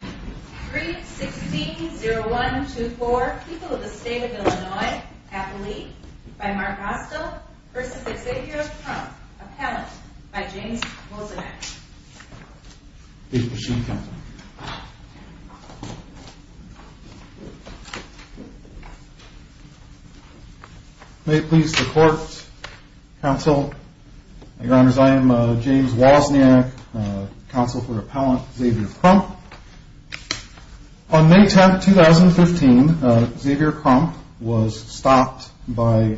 3-16-0124 People of the State of Illinois, Appalachia, by Mark Rostal, versus Xavier Crump, Appellant, by James Wozniak May it please the Court, Counsel, Your Honors, I am James Wozniak, Counsel for Appellant Xavier Crump On May 10, 2015, Xavier Crump was stopped on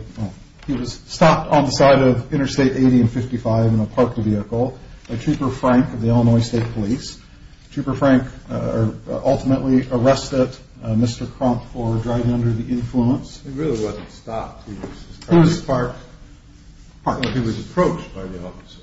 the side of Interstate 80 and 55 in a parked vehicle by Trooper Frank of the Illinois State Police. Trooper Frank ultimately arrested Mr. Crump for driving under the influence. It really wasn't stopped, he was approached by the officer?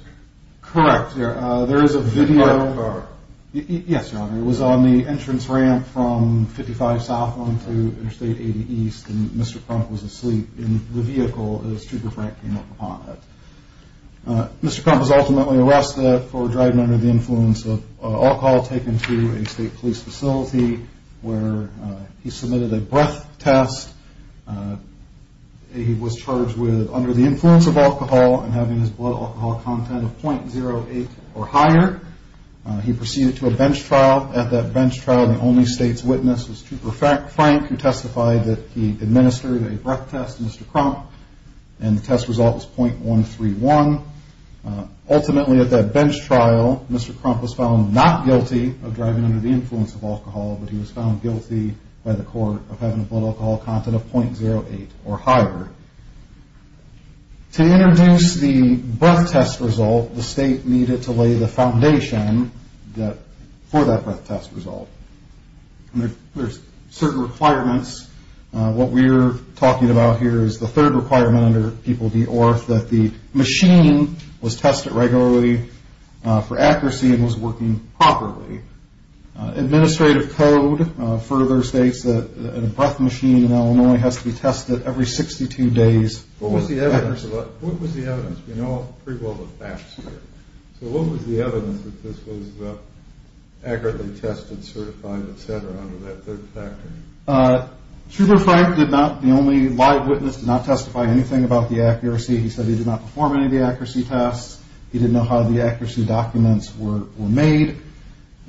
Correct, there is a video. In that car? Yes, Your Honor, it was on the entrance ramp from 55 southbound to Interstate 80 east and Mr. Crump was asleep in the vehicle as Trooper Frank came up on it. Mr. Crump was ultimately arrested for driving under the influence of alcohol taken to a state police facility where he submitted a breath test. He was charged with under the influence of alcohol and having his blood alcohol content of .08 or higher. He proceeded to a bench trial. At that bench trial, the only state's witness was Trooper Frank who testified that he administered a breath test to Mr. Crump. And the test result was .131. Ultimately at that bench trial, Mr. Crump was found not guilty of driving under the influence of alcohol, but he was found guilty by the court of having a blood alcohol content of .08 or higher. To introduce the breath test result, the state needed to lay the foundation for that breath test result. There's certain requirements. What we're talking about here is the third requirement under People v. Orth that the machine was tested regularly for accuracy and was working properly. Administrative code further states that a breath machine in Illinois has to be tested every 62 days. What was the evidence? We know pretty well the facts here. So what was the evidence that this was accurately tested, certified, etc. under that third factor? Trooper Frank did not, the only live witness, did not testify anything about the accuracy. He said he did not perform any of the accuracy tests. He didn't know how the accuracy documents were made.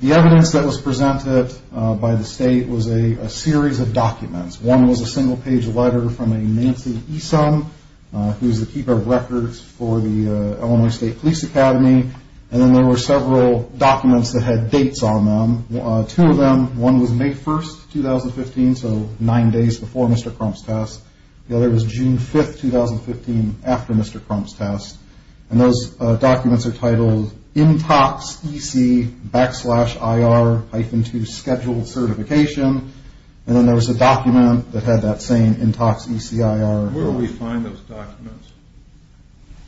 The evidence that was presented by the state was a series of documents. One was a single-page letter from a Nancy Esom, who's the keeper of records for the Illinois State Police Academy, and then there were several documents that had dates on them. Two of them, one was May 1, 2015, so nine days before Mr. Crump's test. The other was June 5, 2015, after Mr. Crump's test. And those documents are titled INTOX-EC-IR-2 Scheduled Certification. And then there was a document that had that same INTOX-ECIR. Where do we find those documents?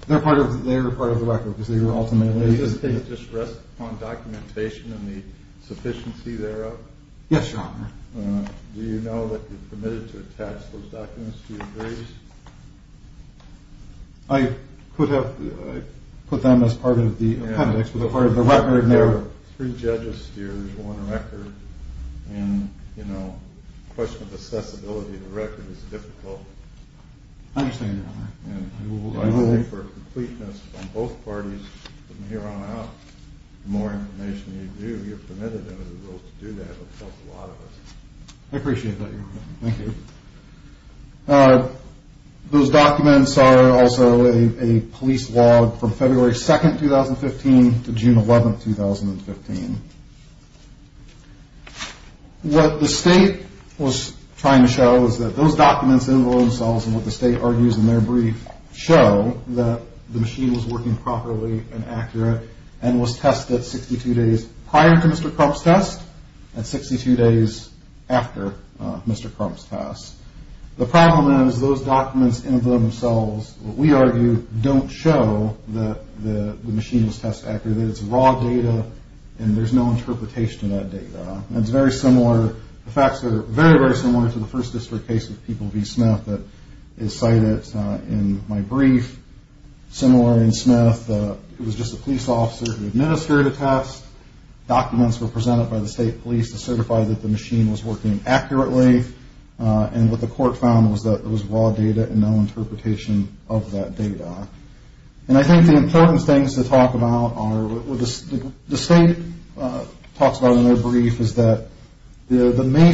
They're part of the record, because they were ultimately... Does it just rest upon documentation and the sufficiency thereof? Yes, Your Honor. Do you know that you're permitted to attach those documents to your grades? I put them as part of the appendix, but they're part of the record. There are three judges here, there's one director. And, you know, the question of accessibility of the record is difficult. I understand, Your Honor. And for completeness on both parties, from here on out, the more information you do, you're permitted to do that, which helps a lot of us. I appreciate that, Your Honor. Thank you. Those documents are also a police log from February 2, 2015, to June 11, 2015. What the state was trying to show is that those documents, in themselves and what the state argues in their brief, show that the machine was working properly and accurate and was tested 62 days prior to Mr. Crump's test and 62 days after Mr. Crump's test. The problem is those documents in themselves, what we argue, don't show that the machine was tested accurately. It's raw data, and there's no interpretation of that data. It's very similar. The facts are very, very similar to the First District case with People v. Smith that is cited in my brief. Similar in Smith, it was just a police officer who administered a test. Documents were presented by the state police to certify that the machine was working accurately, and what the court found was that it was raw data and no interpretation of that data. And I think the important things to talk about are what the state talks about in their brief is that the May 1,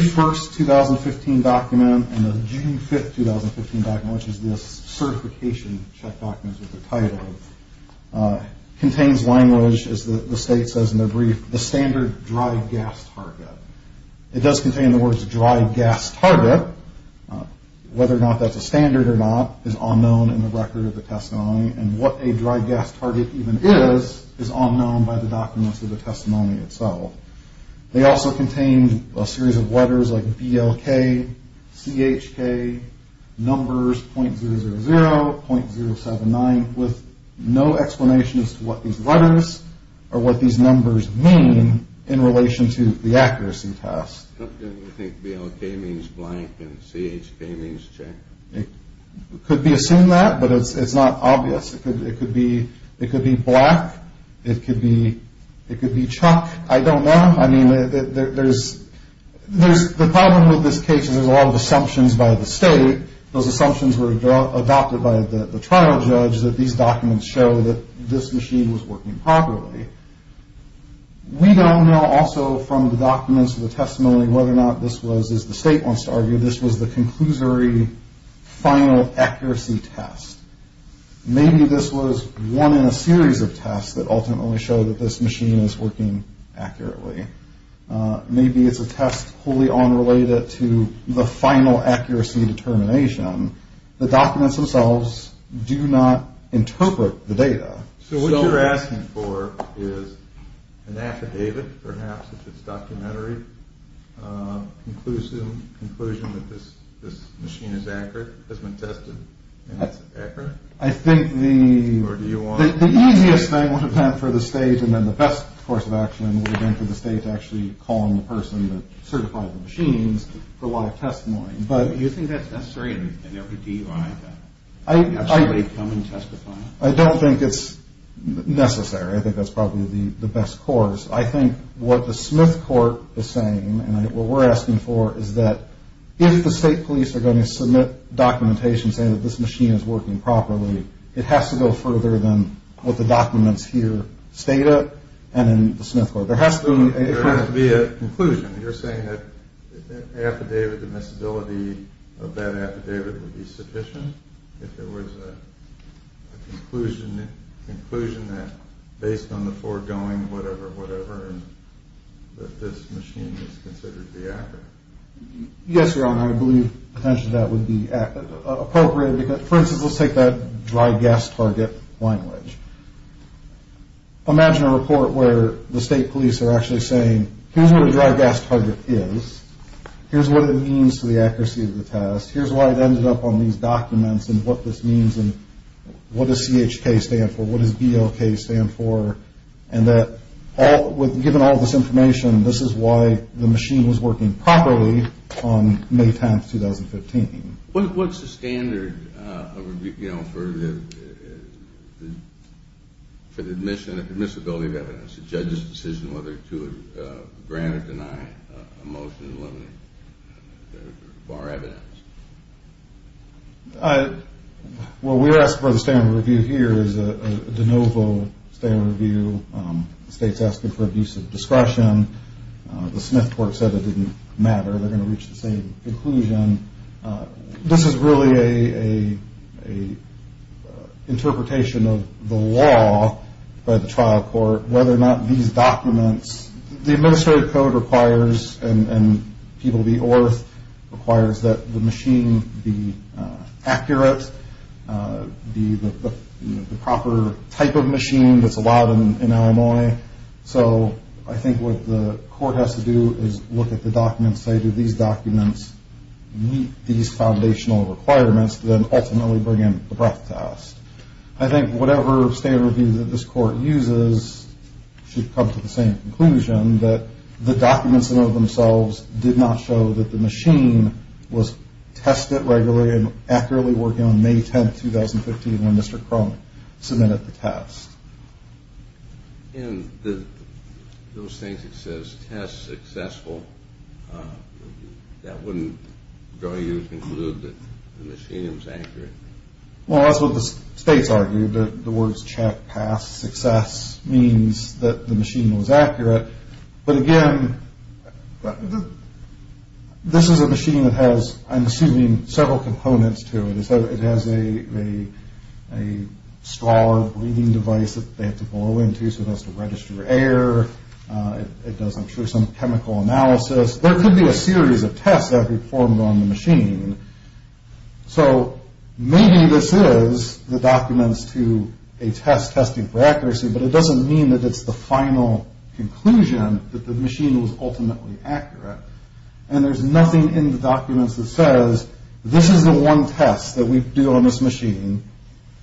2015 document and the June 5, 2015 document, which is this certification check document with the title, contains language, as the state says in their brief, the standard dry gas target. It does contain the words dry gas target. Whether or not that's a standard or not is unknown in the record of the testimony, and what a dry gas target even is is unknown by the documents of the testimony itself. They also contain a series of letters like BLK, CHK, numbers .000, .079, with no explanation as to what these letters or what these numbers mean in relation to the accuracy test. I think BLK means blank and CHK means check. It could be assumed that, but it's not obvious. It could be black. It could be CHK. I don't know. I mean, the problem with this case is there's a lot of assumptions by the state. Those assumptions were adopted by the trial judge that these documents show that this machine was working properly. We don't know also from the documents of the testimony whether or not this was, as the state wants to argue, this was the conclusory final accuracy test. Maybe this was one in a series of tests that ultimately show that this machine is working accurately. Maybe it's a test wholly unrelated to the final accuracy determination. The documents themselves do not interpret the data. So what you're asking for is an affidavit, perhaps, if it's documentary, conclusive conclusion that this machine is accurate, has been tested, and it's accurate. I think the easiest thing would have been for the state and then the best course of action would have been for the state to actually call in the person that certified the machines for live testimony. Do you think that's necessary in every DUI to actually come and testify? I don't think it's necessary. I think that's probably the best course. I think what the Smith Court is saying, and what we're asking for, is that if the state police are going to submit documentation saying that this machine is working properly, it has to go further than what the documents here state, and then the Smith Court. There has to be a conclusion. You're saying that affidavit, the miscibility of that affidavit would be sufficient? If there was a conclusion that, based on the foregoing, whatever, whatever, that this machine is considered to be accurate? Yes, Your Honor, I believe potentially that would be appropriate. For instance, let's take that dry gas target language. Imagine a report where the state police are actually saying, here's what a dry gas target is, here's what it means to the accuracy of the test, here's why it ended up on these documents, and what this means, and what does CHK stand for, what does BLK stand for, and that given all this information, this is why the machine was working properly on May 10, 2015. What's the standard for the admission of the permissibility of evidence, the judge's decision whether to grant or deny a motion to eliminate the bar evidence? Well, we're asking for the standard review here is a de novo standard review. The state's asking for abuse of discretion. The Smith Court said it didn't matter. They're going to reach the same conclusion. This is really an interpretation of the law by the trial court, whether or not these documents, the administrative code requires, and people of the ORF, requires that the machine be accurate, be the proper type of machine that's allowed in Illinois. So I think what the court has to do is look at the documents, say, do these documents meet these foundational requirements, then ultimately bring in the breath test. I think whatever standard review that this court uses should come to the same conclusion, that the documents in and of themselves did not show that the machine was tested regularly and accurately working on May 10, 2015 when Mr. Crone submitted the test. And those things that says test successful, that wouldn't draw you to conclude that the machine was accurate? Well, that's what the states argued. The words check, pass, success means that the machine was accurate. But, again, this is a machine that has, I'm assuming, several components to it. It has a straw breathing device that they have to blow into so it has to register air. It does, I'm sure, some chemical analysis. There could be a series of tests that could be performed on the machine. So maybe this is the documents to a test testing for accuracy, but it doesn't mean that it's the final conclusion that the machine was ultimately accurate. And there's nothing in the documents that says this is the one test that we do on this machine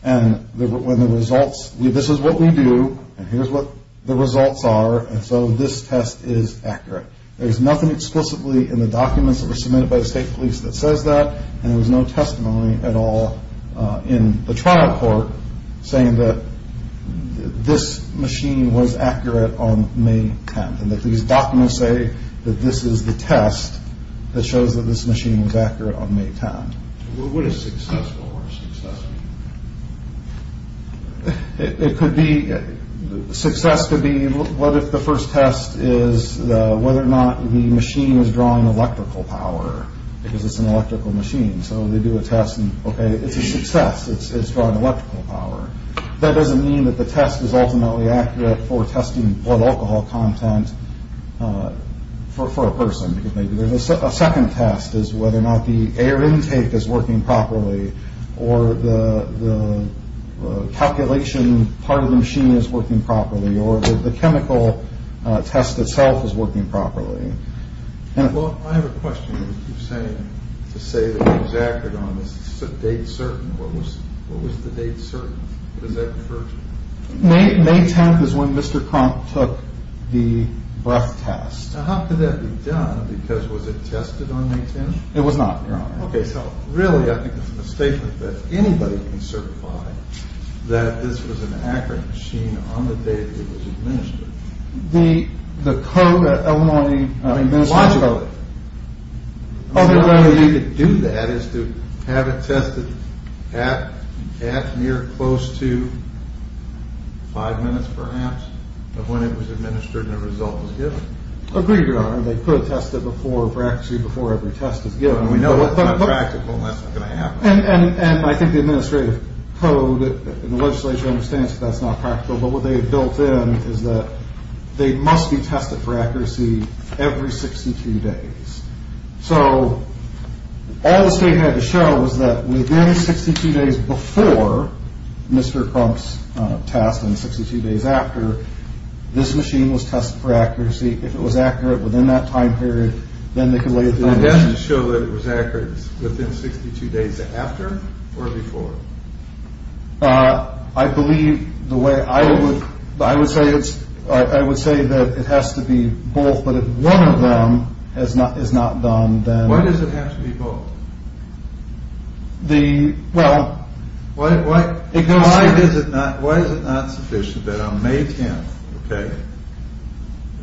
and this is what we do and here's what the results are and so this test is accurate. There's nothing explicitly in the documents that were submitted by the state police that says that and there was no testimony at all in the trial court saying that this machine was accurate on May 10th and that these documents say that this is the test that shows that this machine was accurate on May 10th. What is successful or successful? It could be, success could be, what if the first test is whether or not the machine is drawing electrical power because it's an electrical machine. So they do a test and, okay, it's a success. It's drawing electrical power. That doesn't mean that the test is ultimately accurate for testing blood alcohol content for a person because maybe there's a second test is whether or not the air intake is working properly or the calculation part of the machine is working properly or the chemical test itself is working properly. Well, I have a question. You're saying to say that it was accurate on this date certain. What was the date certain? What does that refer to? May 10th is when Mr. Crump took the breath test. Now how could that be done because was it tested on May 10th? It was not, Your Honor. Okay, so really I think it's a mistake that anybody can certify that this was an accurate machine on the day that it was administered. The code at Illinois... I mean, logically. The only way you could do that is to have it tested at near close to five minutes perhaps of when it was administered and the result was given. Agreed, Your Honor. They could test it before, actually before every test is given. We know that's not practical and that's not going to happen. And I think the administrative code and the legislature understands that that's not practical but what they have built in is that they must be tested for accuracy every 62 days. So all the state had to show was that within 62 days before Mr. Crump's test and 62 days after, this machine was tested for accuracy. If it was accurate within that time period, then they could lay it to rest. So they had to show that it was accurate within 62 days after or before? I believe the way I would... I would say it's... I would say that it has to be both but if one of them is not done, then... Why does it have to be both? The... well... Why is it not sufficient that on May 10th, okay,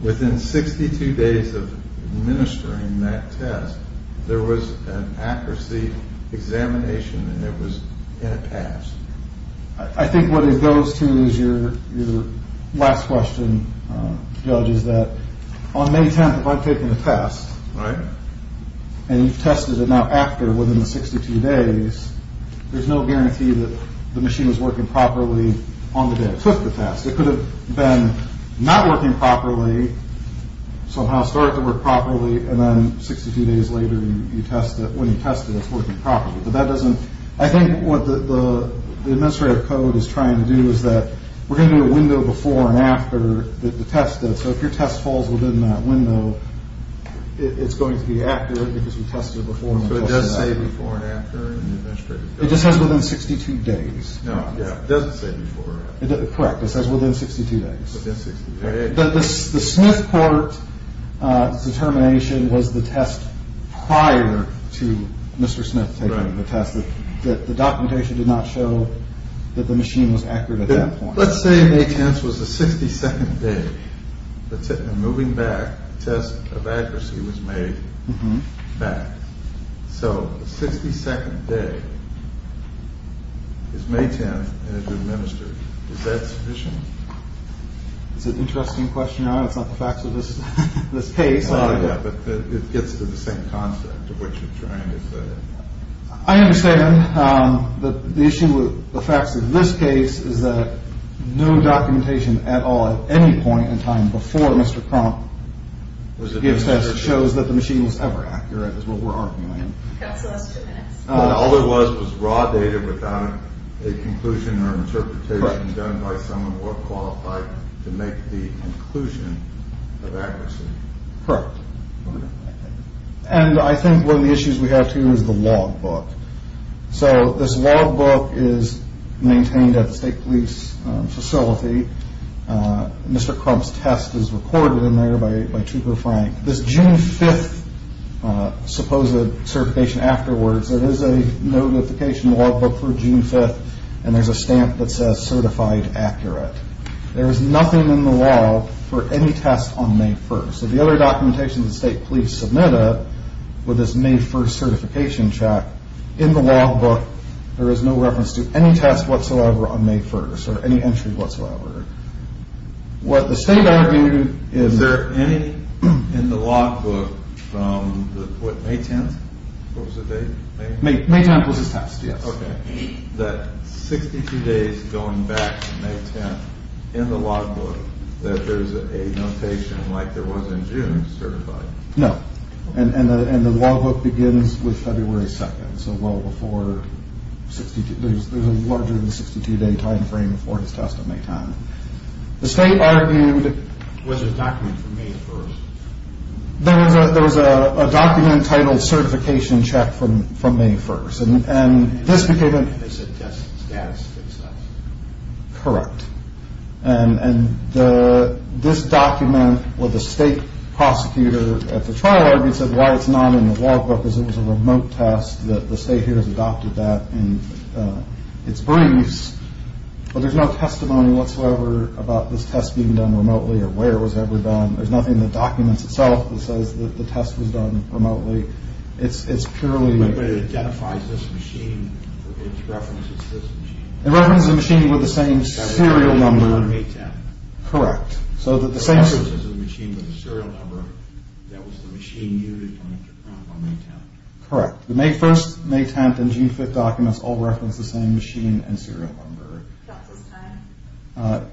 within 62 days of administering that test, there was an accuracy examination and it was... and it passed? I think what it goes to is your last question, Judge, is that on May 10th, if I've taken the test... Right. ...and you've tested it now after within the 62 days, there's no guarantee that the machine was working properly on the day I took the test. It could have been not working properly, somehow started to work properly and then 62 days later you test it. When you test it, it's working properly. But that doesn't... I think what the administrative code is trying to do is that we're going to do a window before and after the test. So if your test falls within that window, it's going to be accurate because we tested it before and after. So it does say before and after in the administrative code? It just says within 62 days. No, it doesn't say before and after. Correct. It says within 62 days. Within 62 days. The Smith court's determination was the test prior to Mr. Smith taking the test. The documentation did not show that the machine was accurate at that point. Let's say May 10th was the 62nd day. I'm moving back. The test of accuracy was made back. So the 62nd day is May 10th and it's administered. Is that sufficient? It's an interesting question. It's not the facts of this case. Yeah, but it gets to the same concept of what you're trying to say. I understand. The issue with the facts of this case is that no documentation at all at any point in time before Mr. Crump gives tests shows that the machine was ever accurate is what we're arguing. That's the last two minutes. All it was was raw data without a conclusion or interpretation done by someone more qualified to make the conclusion of accuracy. Correct. And I think one of the issues we have, too, is the logbook. So this logbook is maintained at the state police facility. Mr. Crump's test is recorded in there by Trooper Frank. This June 5th supposed certification afterwards, there is a notification logbook for June 5th, and there's a stamp that says certified accurate. There is nothing in the law for any test on May 1st. So the other documentation the state police submitted with this May 1st certification check, in the logbook, there is no reference to any test whatsoever on May 1st or any entry whatsoever. What the state argued is... Is there any in the logbook from May 10th? What was the date? May 10th was his test, yes. Okay. That 62 days going back to May 10th in the logbook that there's a notation like there was in June certified. No. And the logbook begins with February 2nd. There's a larger than 62 day time frame before his test on May 10th. The state argued... Was there a document from May 1st? There was a document titled certification check from May 1st. And this became... They said test status fixed that. Correct. And this document with the state prosecutor at the trial argued said why it's not in the logbook because it was a remote test that the state here has adopted that in its briefs. But there's no testimony whatsoever about this test being done remotely or where it was ever done. There's nothing in the documents itself that says that the test was done remotely. It's purely... But it identifies this machine for which reference it's this machine. Correct. So that the same... Correct. The May 1st, May 10th, and June 5th documents all reference the same machine and serial number.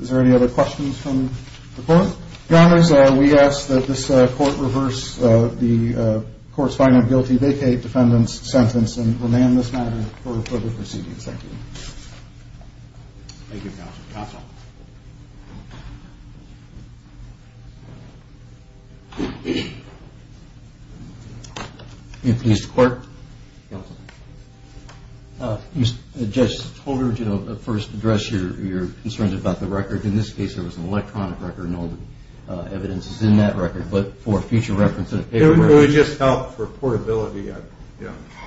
Is there any other questions from the court? Your Honors, we ask that this court reverse the court's finding of guilty vacate defendant's sentence and remand this matter for the proceeding. Thank you. Thank you, Counsel. Counsel. Thank you. May it please the court. Counsel. Judge Tolbert, you know, first address your concerns about the record. In this case, there was an electronic record and all the evidence is in that record. But for future reference... It would just help for portability. I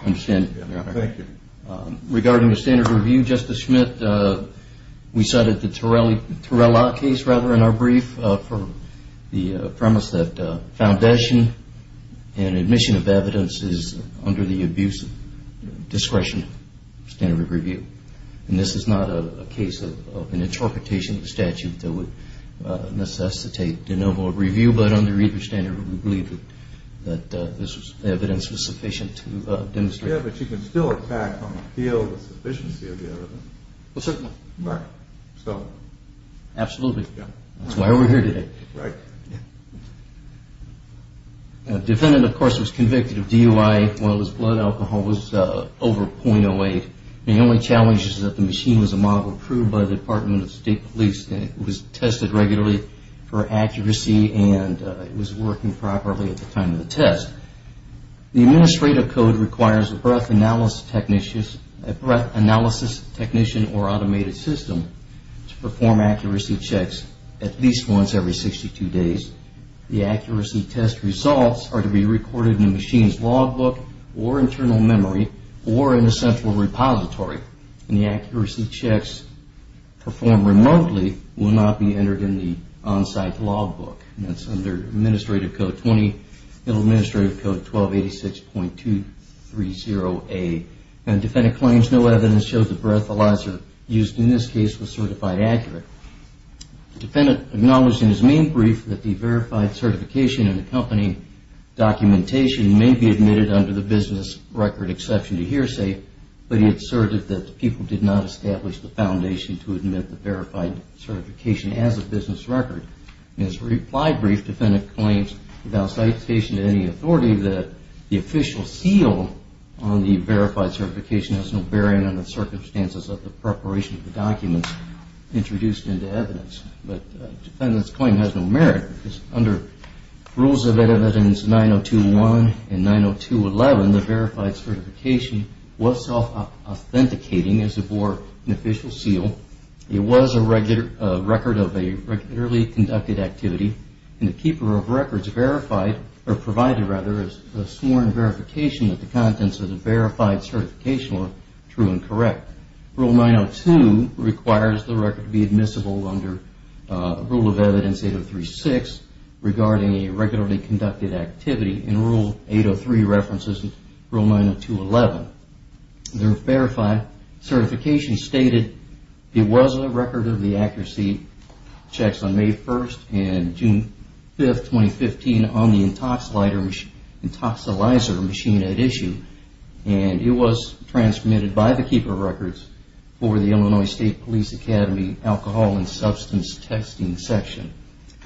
understand. Thank you. Regarding the standard review, Justice Schmidt, we cited the Torelli case, rather, in our brief for the premise that foundation and admission of evidence is under the abuse of discretion standard of review. And this is not a case of an interpretation of statute that would necessitate de novo review. But under either standard, we believe that this evidence was sufficient to demonstrate... Yeah, but you can still attack on appeal the sufficiency of the evidence. Well, certainly. Right. So... Absolutely. Yeah. That's why we're here today. Right. Yeah. Defendant, of course, was convicted of DUI. Well, his blood alcohol was over 0.08. The only challenge is that the machine was a model approved by the Department of State Police and it was tested regularly for accuracy and it was working properly at the time of the test. The administrative code requires a breath analysis technician or automated system to perform accuracy checks at least once every 62 days. The accuracy test results are to be recorded in the machine's logbook or internal memory or in a central repository. And the accuracy checks performed remotely will not be entered in the on-site logbook. That's under administrative code 20, administrative code 1286.230A. Defendant claims no evidence shows the breathalyzer used in this case was certified accurate. Defendant acknowledged in his main brief that the verified certification in the company documentation may be admitted under the business record exception to hearsay, but he asserted that the people did not establish the foundation to admit the verified certification as a business record. In his reply brief, defendant claims without citation to any authority that the official seal on the verified certification has no bearing on the circumstances of the preparation of the documents introduced into evidence. But defendant's claim has no merit because under rules of evidence 9021 and 90211, the verified certification was self-authenticating as it bore an official seal. It was a record of a regularly conducted activity and the keeper of records verified or provided rather is sworn verification that the contents of the verified certification are true and correct. Rule 902 requires the record to be admissible under rule of evidence 8036 regarding a regularly conducted activity and rule 803 references rule 90211. The verified certification stated it was a record of the accuracy checks on May 1st and June 5th, 2015 on the intoxilizer machine at issue and it was transmitted by the keeper of records for the Illinois State Police Academy alcohol and substance testing section.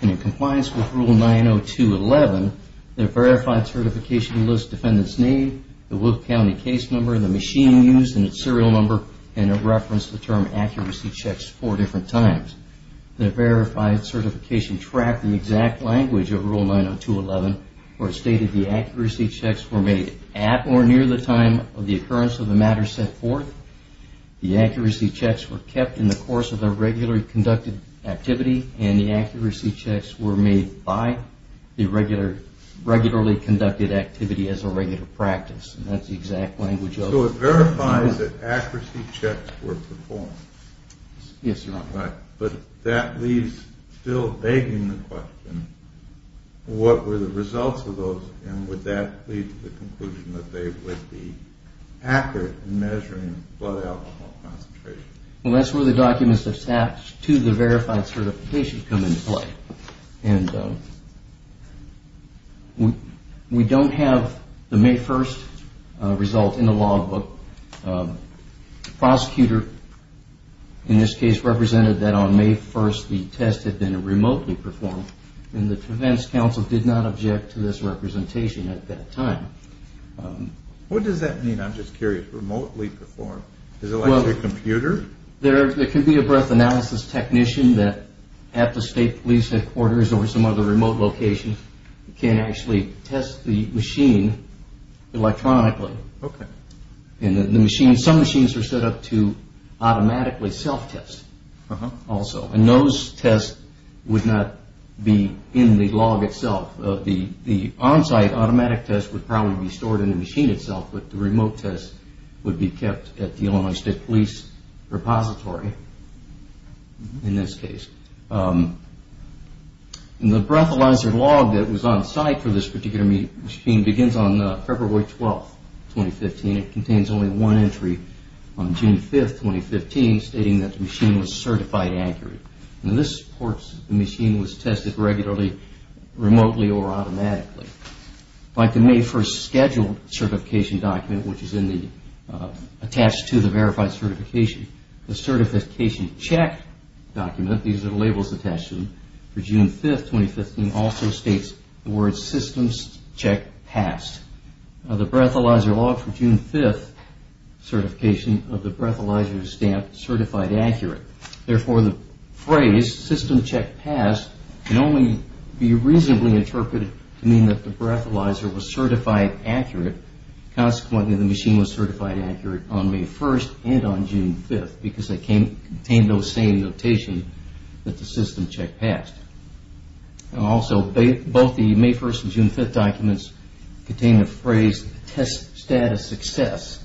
In compliance with rule 90211, the verified certification lists defendant's name, identity, the Wolf County case number, the machine used and its serial number and it referenced the term accuracy checks four different times. The verified certification tracked the exact language of rule 90211 where it stated the accuracy checks were made at or near the time of the occurrence of the matter set forth. The accuracy checks were kept in the course of the regularly conducted activity and the accuracy So it verifies that accuracy checks were performed. Yes, Your Honor. But that leaves still begging the question, what were the results of those and would that lead to the conclusion that they would be accurate in measuring blood alcohol concentration? Well, that's where the documents attached to the verified certification come into play. And we don't have the May 1st result in the log book. The prosecutor in this case represented that on May 1st the test had been remotely performed and the defense counsel did not object to this representation at that time. What does that mean? I'm just curious. Remotely performed? Is it like a computer? There could be a breath analysis technician that at the state police headquarters or some other remote location can actually test the machine electronically. Okay. And some machines are set up to automatically self-test also. And those tests would not be in the log itself. The on-site automatic test would probably be stored in the machine itself but the remote test would be in the repository in this case. And the breathalyzer log that was on site for this particular machine begins on February 12th, 2015. It contains only one entry on June 5th, 2015 stating that the machine was certified accurate. And this supports the machine was tested regularly, remotely or automatically. Like the May 1st scheduled certification document which is attached to the verified certification, the certification check document, these are the labels attached to them, for June 5th, 2015, also states the word systems check passed. The breathalyzer log for June 5th certification of the breathalyzer stamp certified accurate. Therefore, the phrase system check passed can only be reasonably interpreted to mean that the breathalyzer was certified accurate. Consequently, the machine was certified accurate on May 1st and on June 5th because it contained those same notation that the system check passed. And also both the May 1st and June 5th documents contain the phrase test status success.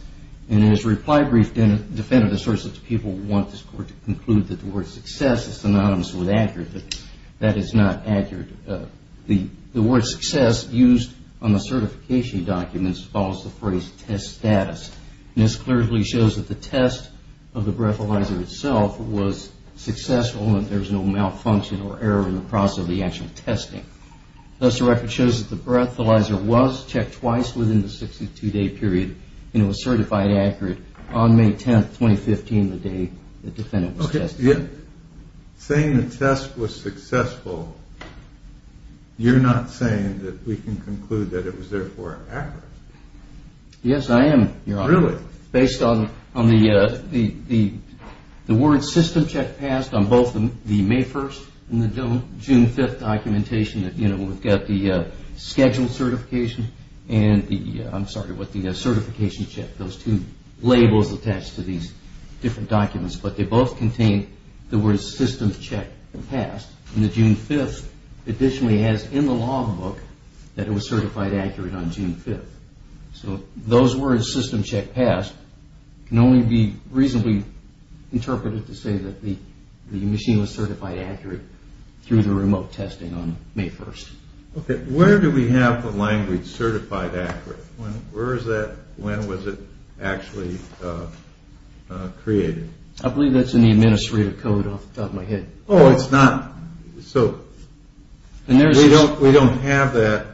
And as reply brief defendant asserts that the people want this court to conclude that the word success is synonymous with accurate, that that is not accurate. The word success used on the certification documents follows the phrase test status. And this clearly shows that the test of the breathalyzer itself was successful and that there was no malfunction or error in the process of the actual testing. Thus the record shows that the breathalyzer was checked twice within the 62-day period and it was certified accurate on May 10th, 2015, the day the defendant was tested. Okay. Saying the test was successful, you're not saying that we can conclude that it was therefore accurate. Yes, I am, Your Honor. Really? Based on the word system check passed on both the May 1st and the June 5th documentation, you know, we've got the scheduled certification and the, I'm sorry, what the certification check, those two labels attached to these different documents. But they both contain the word system check passed. And the June 5th additionally has in the log book that it was certified accurate on June 5th. So those words system check passed can only be reasonably interpreted to say that the machine was certified accurate through the remote testing on May 1st. Okay. Where do we have the language certified accurate? When was it actually created? I believe that's in the administrative code off the top of my head. Oh, it's not? So we don't have that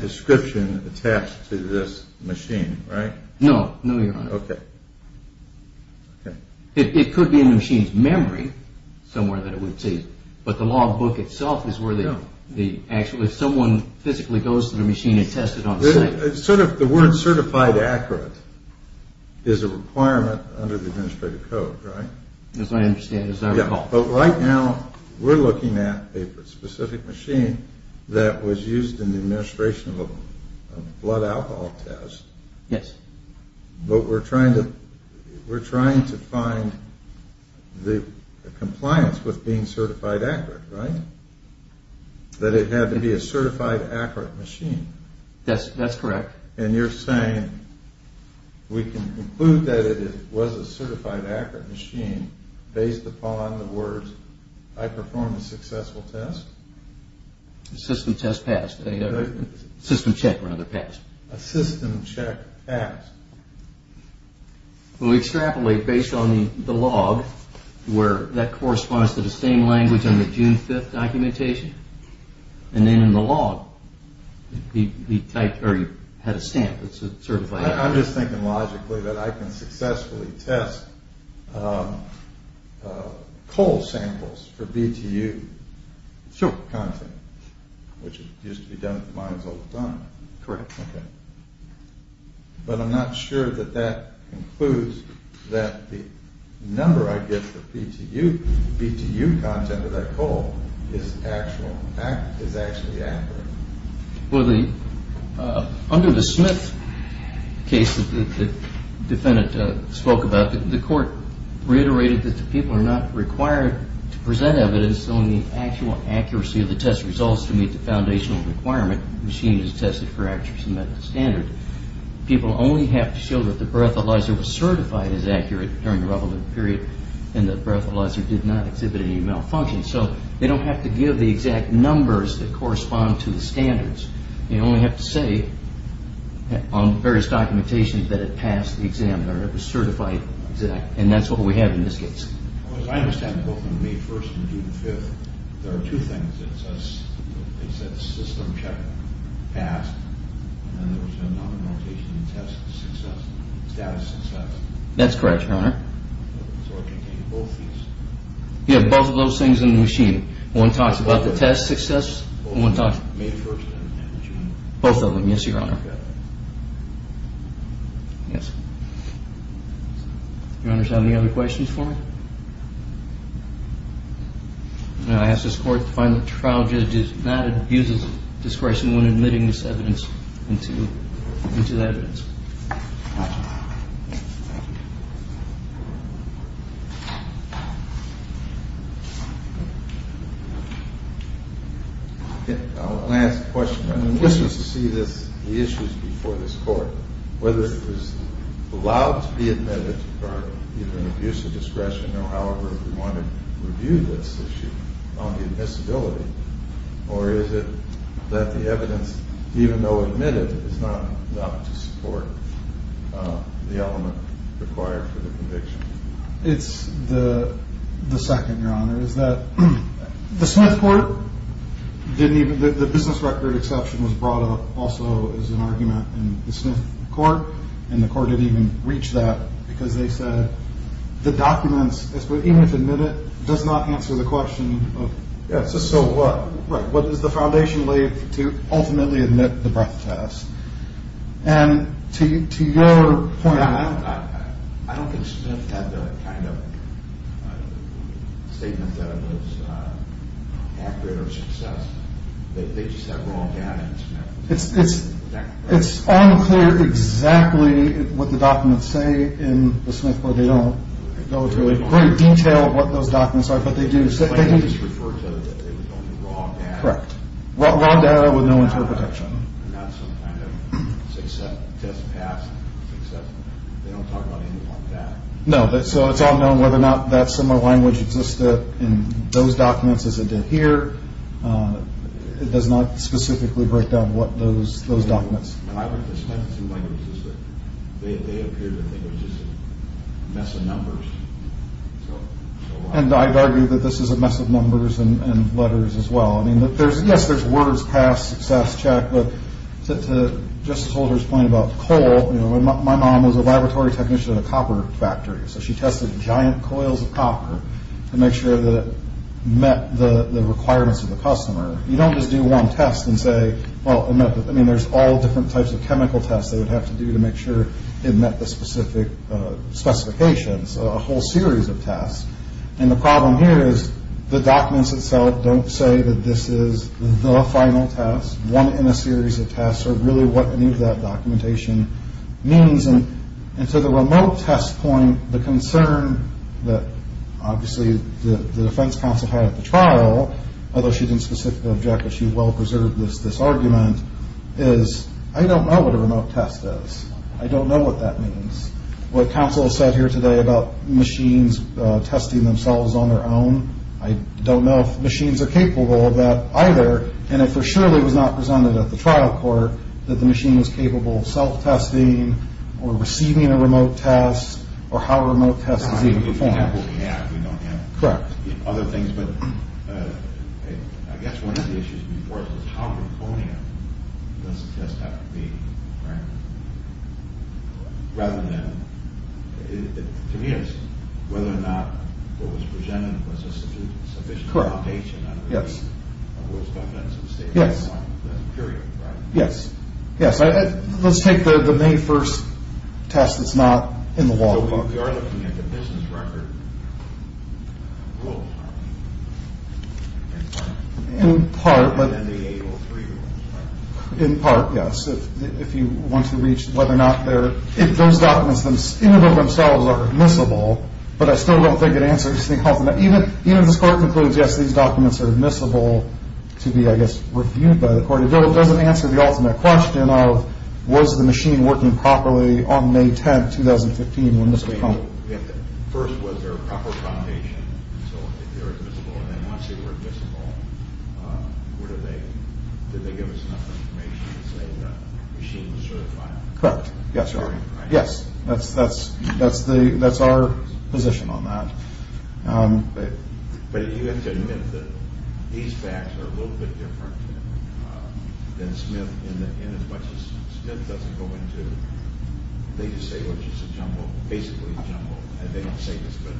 description attached to this machine, right? No, no, Your Honor. Okay. It could be in the machine's memory somewhere that it would say. But the log book itself is where the actual, if someone physically goes to the machine and tests it on site. The word certified accurate is a requirement under the administrative code, right? As I understand, as I recall. But right now we're looking at a specific machine that was used in the administration of a blood alcohol test. Yes. But we're trying to find the compliance with being certified accurate, right? That it had to be a certified accurate machine. That's correct. And you're saying we can conclude that it was a certified accurate machine based upon the words I performed a successful test? System test passed. System check rather passed. A system check passed. Well, we extrapolate based on the log where that corresponds to the same language on the June 5th documentation. And then in the log, he typed, or he had a stamp that said certified accurate. I'm just thinking logically that I can successfully test coal samples for BTU content, which used to be done at the mines all the time. Correct. Okay. But I'm not sure that that includes that the number I get for BTU content of that coal is actually accurate. Well, under the Smith case that the defendant spoke about, the court reiterated that the people are not required to present evidence showing the actual accuracy of the test results to meet the foundational requirement, machines tested for accuracy met the standard. People only have to show that the breathalyzer was certified as accurate during the relevant period and the breathalyzer did not exhibit any malfunctions. So they don't have to give the exact numbers that correspond to the standards. They only have to say on various documentations that it passed the exam or it was certified exact. And that's what we have in this case. As far as I understand, both on May 1st and June 5th, there are two things. It says the system check passed and then there was a nominal test success, status success. That's correct, Your Honor. So it contained both of these? Yeah, both of those things in the machine. One talks about the test success and one talks... Both on May 1st and June 5th. Both of them, yes, Your Honor. Okay. Yes. Your Honor, do you have any other questions for me? I ask this Court to find the trial judge who did not abuse his discretion when admitting this evidence into the evidence. I'll ask a question. I'm interested to see the issues before this Court, whether it was allowed to be admitted for either an abuse of discretion or however we want to review this issue on the admissibility. Or is it that the evidence, even though admitted, is not enough to support the element required for the conviction? It's the second, Your Honor, is that the Smith Court didn't even... The business record exception was brought up also as an argument in the Smith Court. And the Court didn't even reach that because they said the documents, even if admitted, does not answer the question of... So what does the foundation leave to ultimately admit the breath test? And to your point... I don't think Smith had the kind of statement that was accurate or successful. They just have wrong data in Smith. It's unclear exactly what the documents say in the Smith Court. They don't go into the great detail of what those documents are, but they do... They just refer to it as wrong data. Correct. Wrong data with no interpretation. Not some kind of, say, test pass, successful. They don't talk about anything like that. No. So it's unknown whether or not that similar language existed in those documents as it did here. It does not specifically break down what those documents... And I would suspect through languages that they appeared to think it was just a mess of numbers. And I'd argue that this is a mess of numbers and letters as well. Yes, there's words, pass, success, check. But to Justice Holder's point about coal, my mom was a laboratory technician at a copper factory, so she tested giant coils of copper to make sure that it met the requirements of the customer. You don't just do one test and say, well, I mean, there's all different types of chemical tests they would have to do to make sure it met the specific specifications, a whole series of tests. And the problem here is the documents itself don't say that this is the final test, one in a series of tests, or really what any of that documentation means. And to the remote test point, the concern that, obviously, the defense counsel had at the trial, although she didn't specifically object, but she well preserved this argument, is I don't know what a remote test is. I don't know what that means. What counsel said here today about machines testing themselves on their own, I don't know if machines are capable of that either. And it surely was not presented at the trial court that the machine was capable of self-testing or receiving a remote test or how a remote test is even performed. We don't have what we have. We don't have other things. But I guess one of the issues before us is how draconian does the test have to be, right? Rather than, to me, it's whether or not what was presented was a sufficient update. Correct. Yes. On what was done at some stage. Yes. Period, right? Yes. Yes. Let's take the May 1st test that's not in the law book. We are looking at the business record rule. In part. And then the April 3 rule. In part, yes. If you want to reach whether or not those documents in and of themselves are admissible, but I still don't think it answers the ultimate. Even if this court concludes, yes, these documents are admissible to be, I guess, reviewed by the court, it doesn't answer the ultimate question of was the machine working properly on May 10th, 2015 First, was there a proper foundation so that they were admissible? And then once they were admissible, did they give us enough information to say that the machine was certified? Correct. Yes, sir. Yes. That's our position on that. But you have to admit that these facts are a little bit different than Smith. In as much as Smith doesn't go into, they just say, well, it's just a jumble, basically a jumble. And they don't say this, but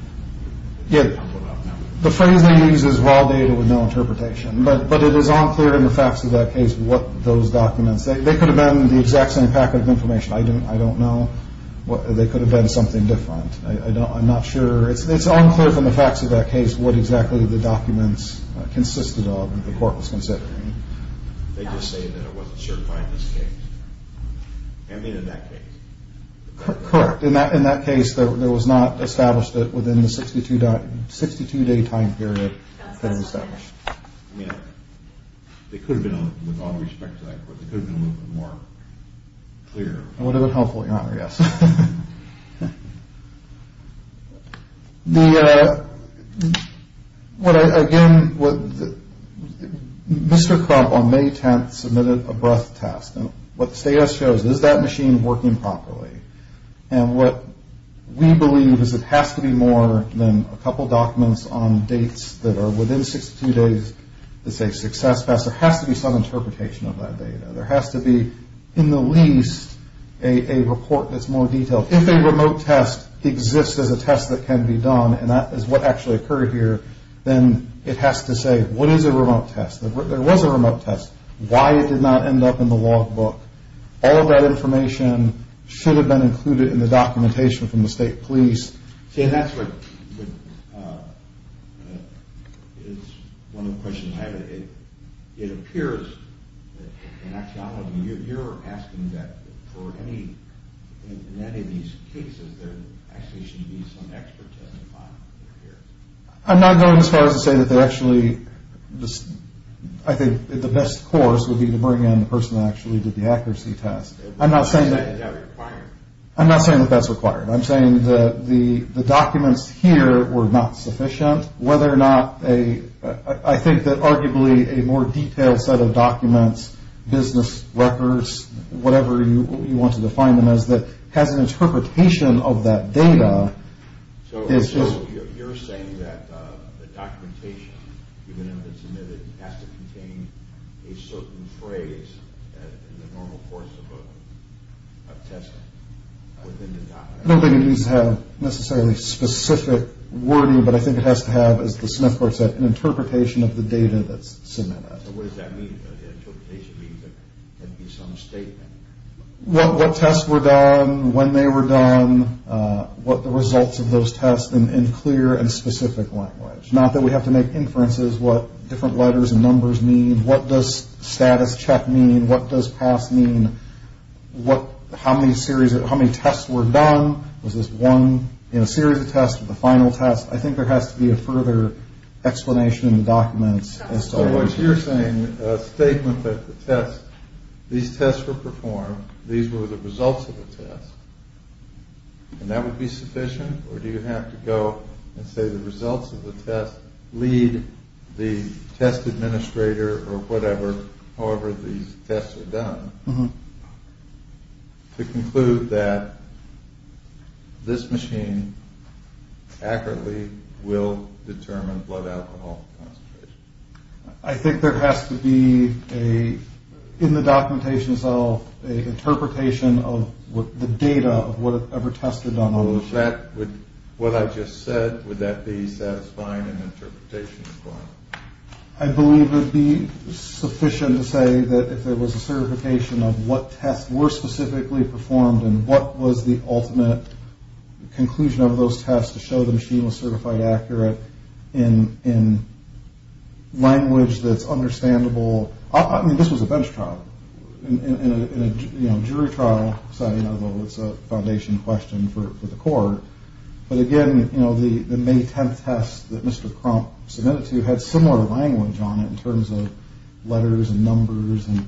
it's a jumble of numbers. The phrase they use is raw data with no interpretation. But it is unclear in the facts of that case what those documents. They could have been the exact same packet of information. I don't know. They could have been something different. I'm not sure. It's unclear from the facts of that case what exactly the documents consisted of that the court was considering. They just say that it wasn't certified in this case. I mean, in that case. Correct. In that case, there was not established that within the 62-day time period that it was established. I mean, they could have been, with all due respect to that court, they could have been a little bit more clear. It would have been helpful, Your Honor, yes. Again, Mr. Crump on May 10th submitted a breath test. And what the status shows, is that machine working properly? And what we believe is it has to be more than a couple documents on dates that are within 62 days to say success. There has to be some interpretation of that data. There has to be, in the least, a report that's more detailed. If a remote test exists as a test that can be done, and that is what actually occurred here, then it has to say what is a remote test. There was a remote test. Why it did not end up in the logbook. All of that information should have been included in the documentation from the state police. See, and that's what, it's one of the questions I have. It appears that, Your Honor, you're asking that for any, in any of these cases, there actually should be some expert testifying here. I'm not going as far as to say that there actually, I think the best course would be to bring in the person that actually did the accuracy test. I'm not saying that. Is that required? I'm not saying that that's required. I'm saying that the documents here were not sufficient. Whether or not a, I think that arguably a more detailed set of documents, business records, whatever you want to define them as, that has an interpretation of that data. So you're saying that the documentation, even if it's omitted, has to contain a certain phrase in the normal course of a test within the document? I don't think it needs to have necessarily specific wording, but I think it has to have, as the Smith court said, an interpretation of the data that's submitted. So what does that mean? The interpretation means that there can be some statement. What tests were done, when they were done, what the results of those tests in clear and specific language. Not that we have to make inferences what different letters and numbers mean. What does status check mean? What does pass mean? How many tests were done? Was this one in a series of tests or the final test? I think there has to be a further explanation in the documents. So what you're saying, a statement that the test, these tests were performed, these were the results of the test, and that would be sufficient? Or do you have to go and say the results of the test lead the test administrator or whatever, however these tests were done, to conclude that this machine accurately will determine blood alcohol concentration? I think there has to be, in the documentation itself, an interpretation of the data of whatever tests were done. What I just said, would that be satisfying an interpretation requirement? I believe it would be sufficient to say that if there was a certification of what tests were specifically performed and what was the ultimate conclusion of those tests to show the machine was certified accurate in language that's understandable. This was a bench trial. In a jury trial setting, although it's a foundation question for the court. But again, the May 10th test that Mr. Crump submitted to you had similar language on it in terms of letters and numbers and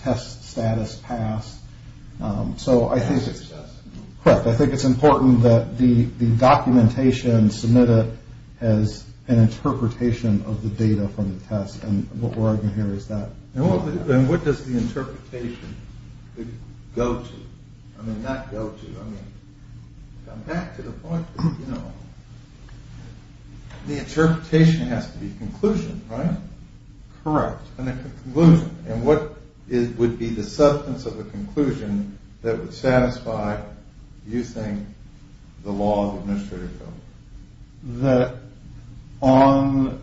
test status passed. So I think it's important that the documentation submitted has an interpretation of the data from the test and what we're arguing here is that. And what does the interpretation go to? I mean, not go to, I mean, come back to the point that, you know, the interpretation has to be a conclusion, right? Correct. And a conclusion. And what would be the substance of a conclusion that would satisfy, you think, the law of administrative code? That on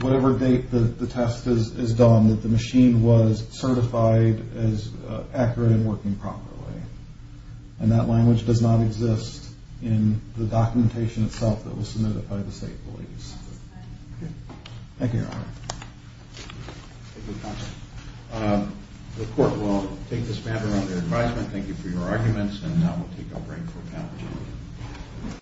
whatever date the test is done, that the machine was certified as accurate and working properly. And that language does not exist in the documentation itself that was submitted by the state police. Thank you, Your Honor. The court will take this matter under advisement. Thank you for your arguments and now we'll take a break for panel discussion.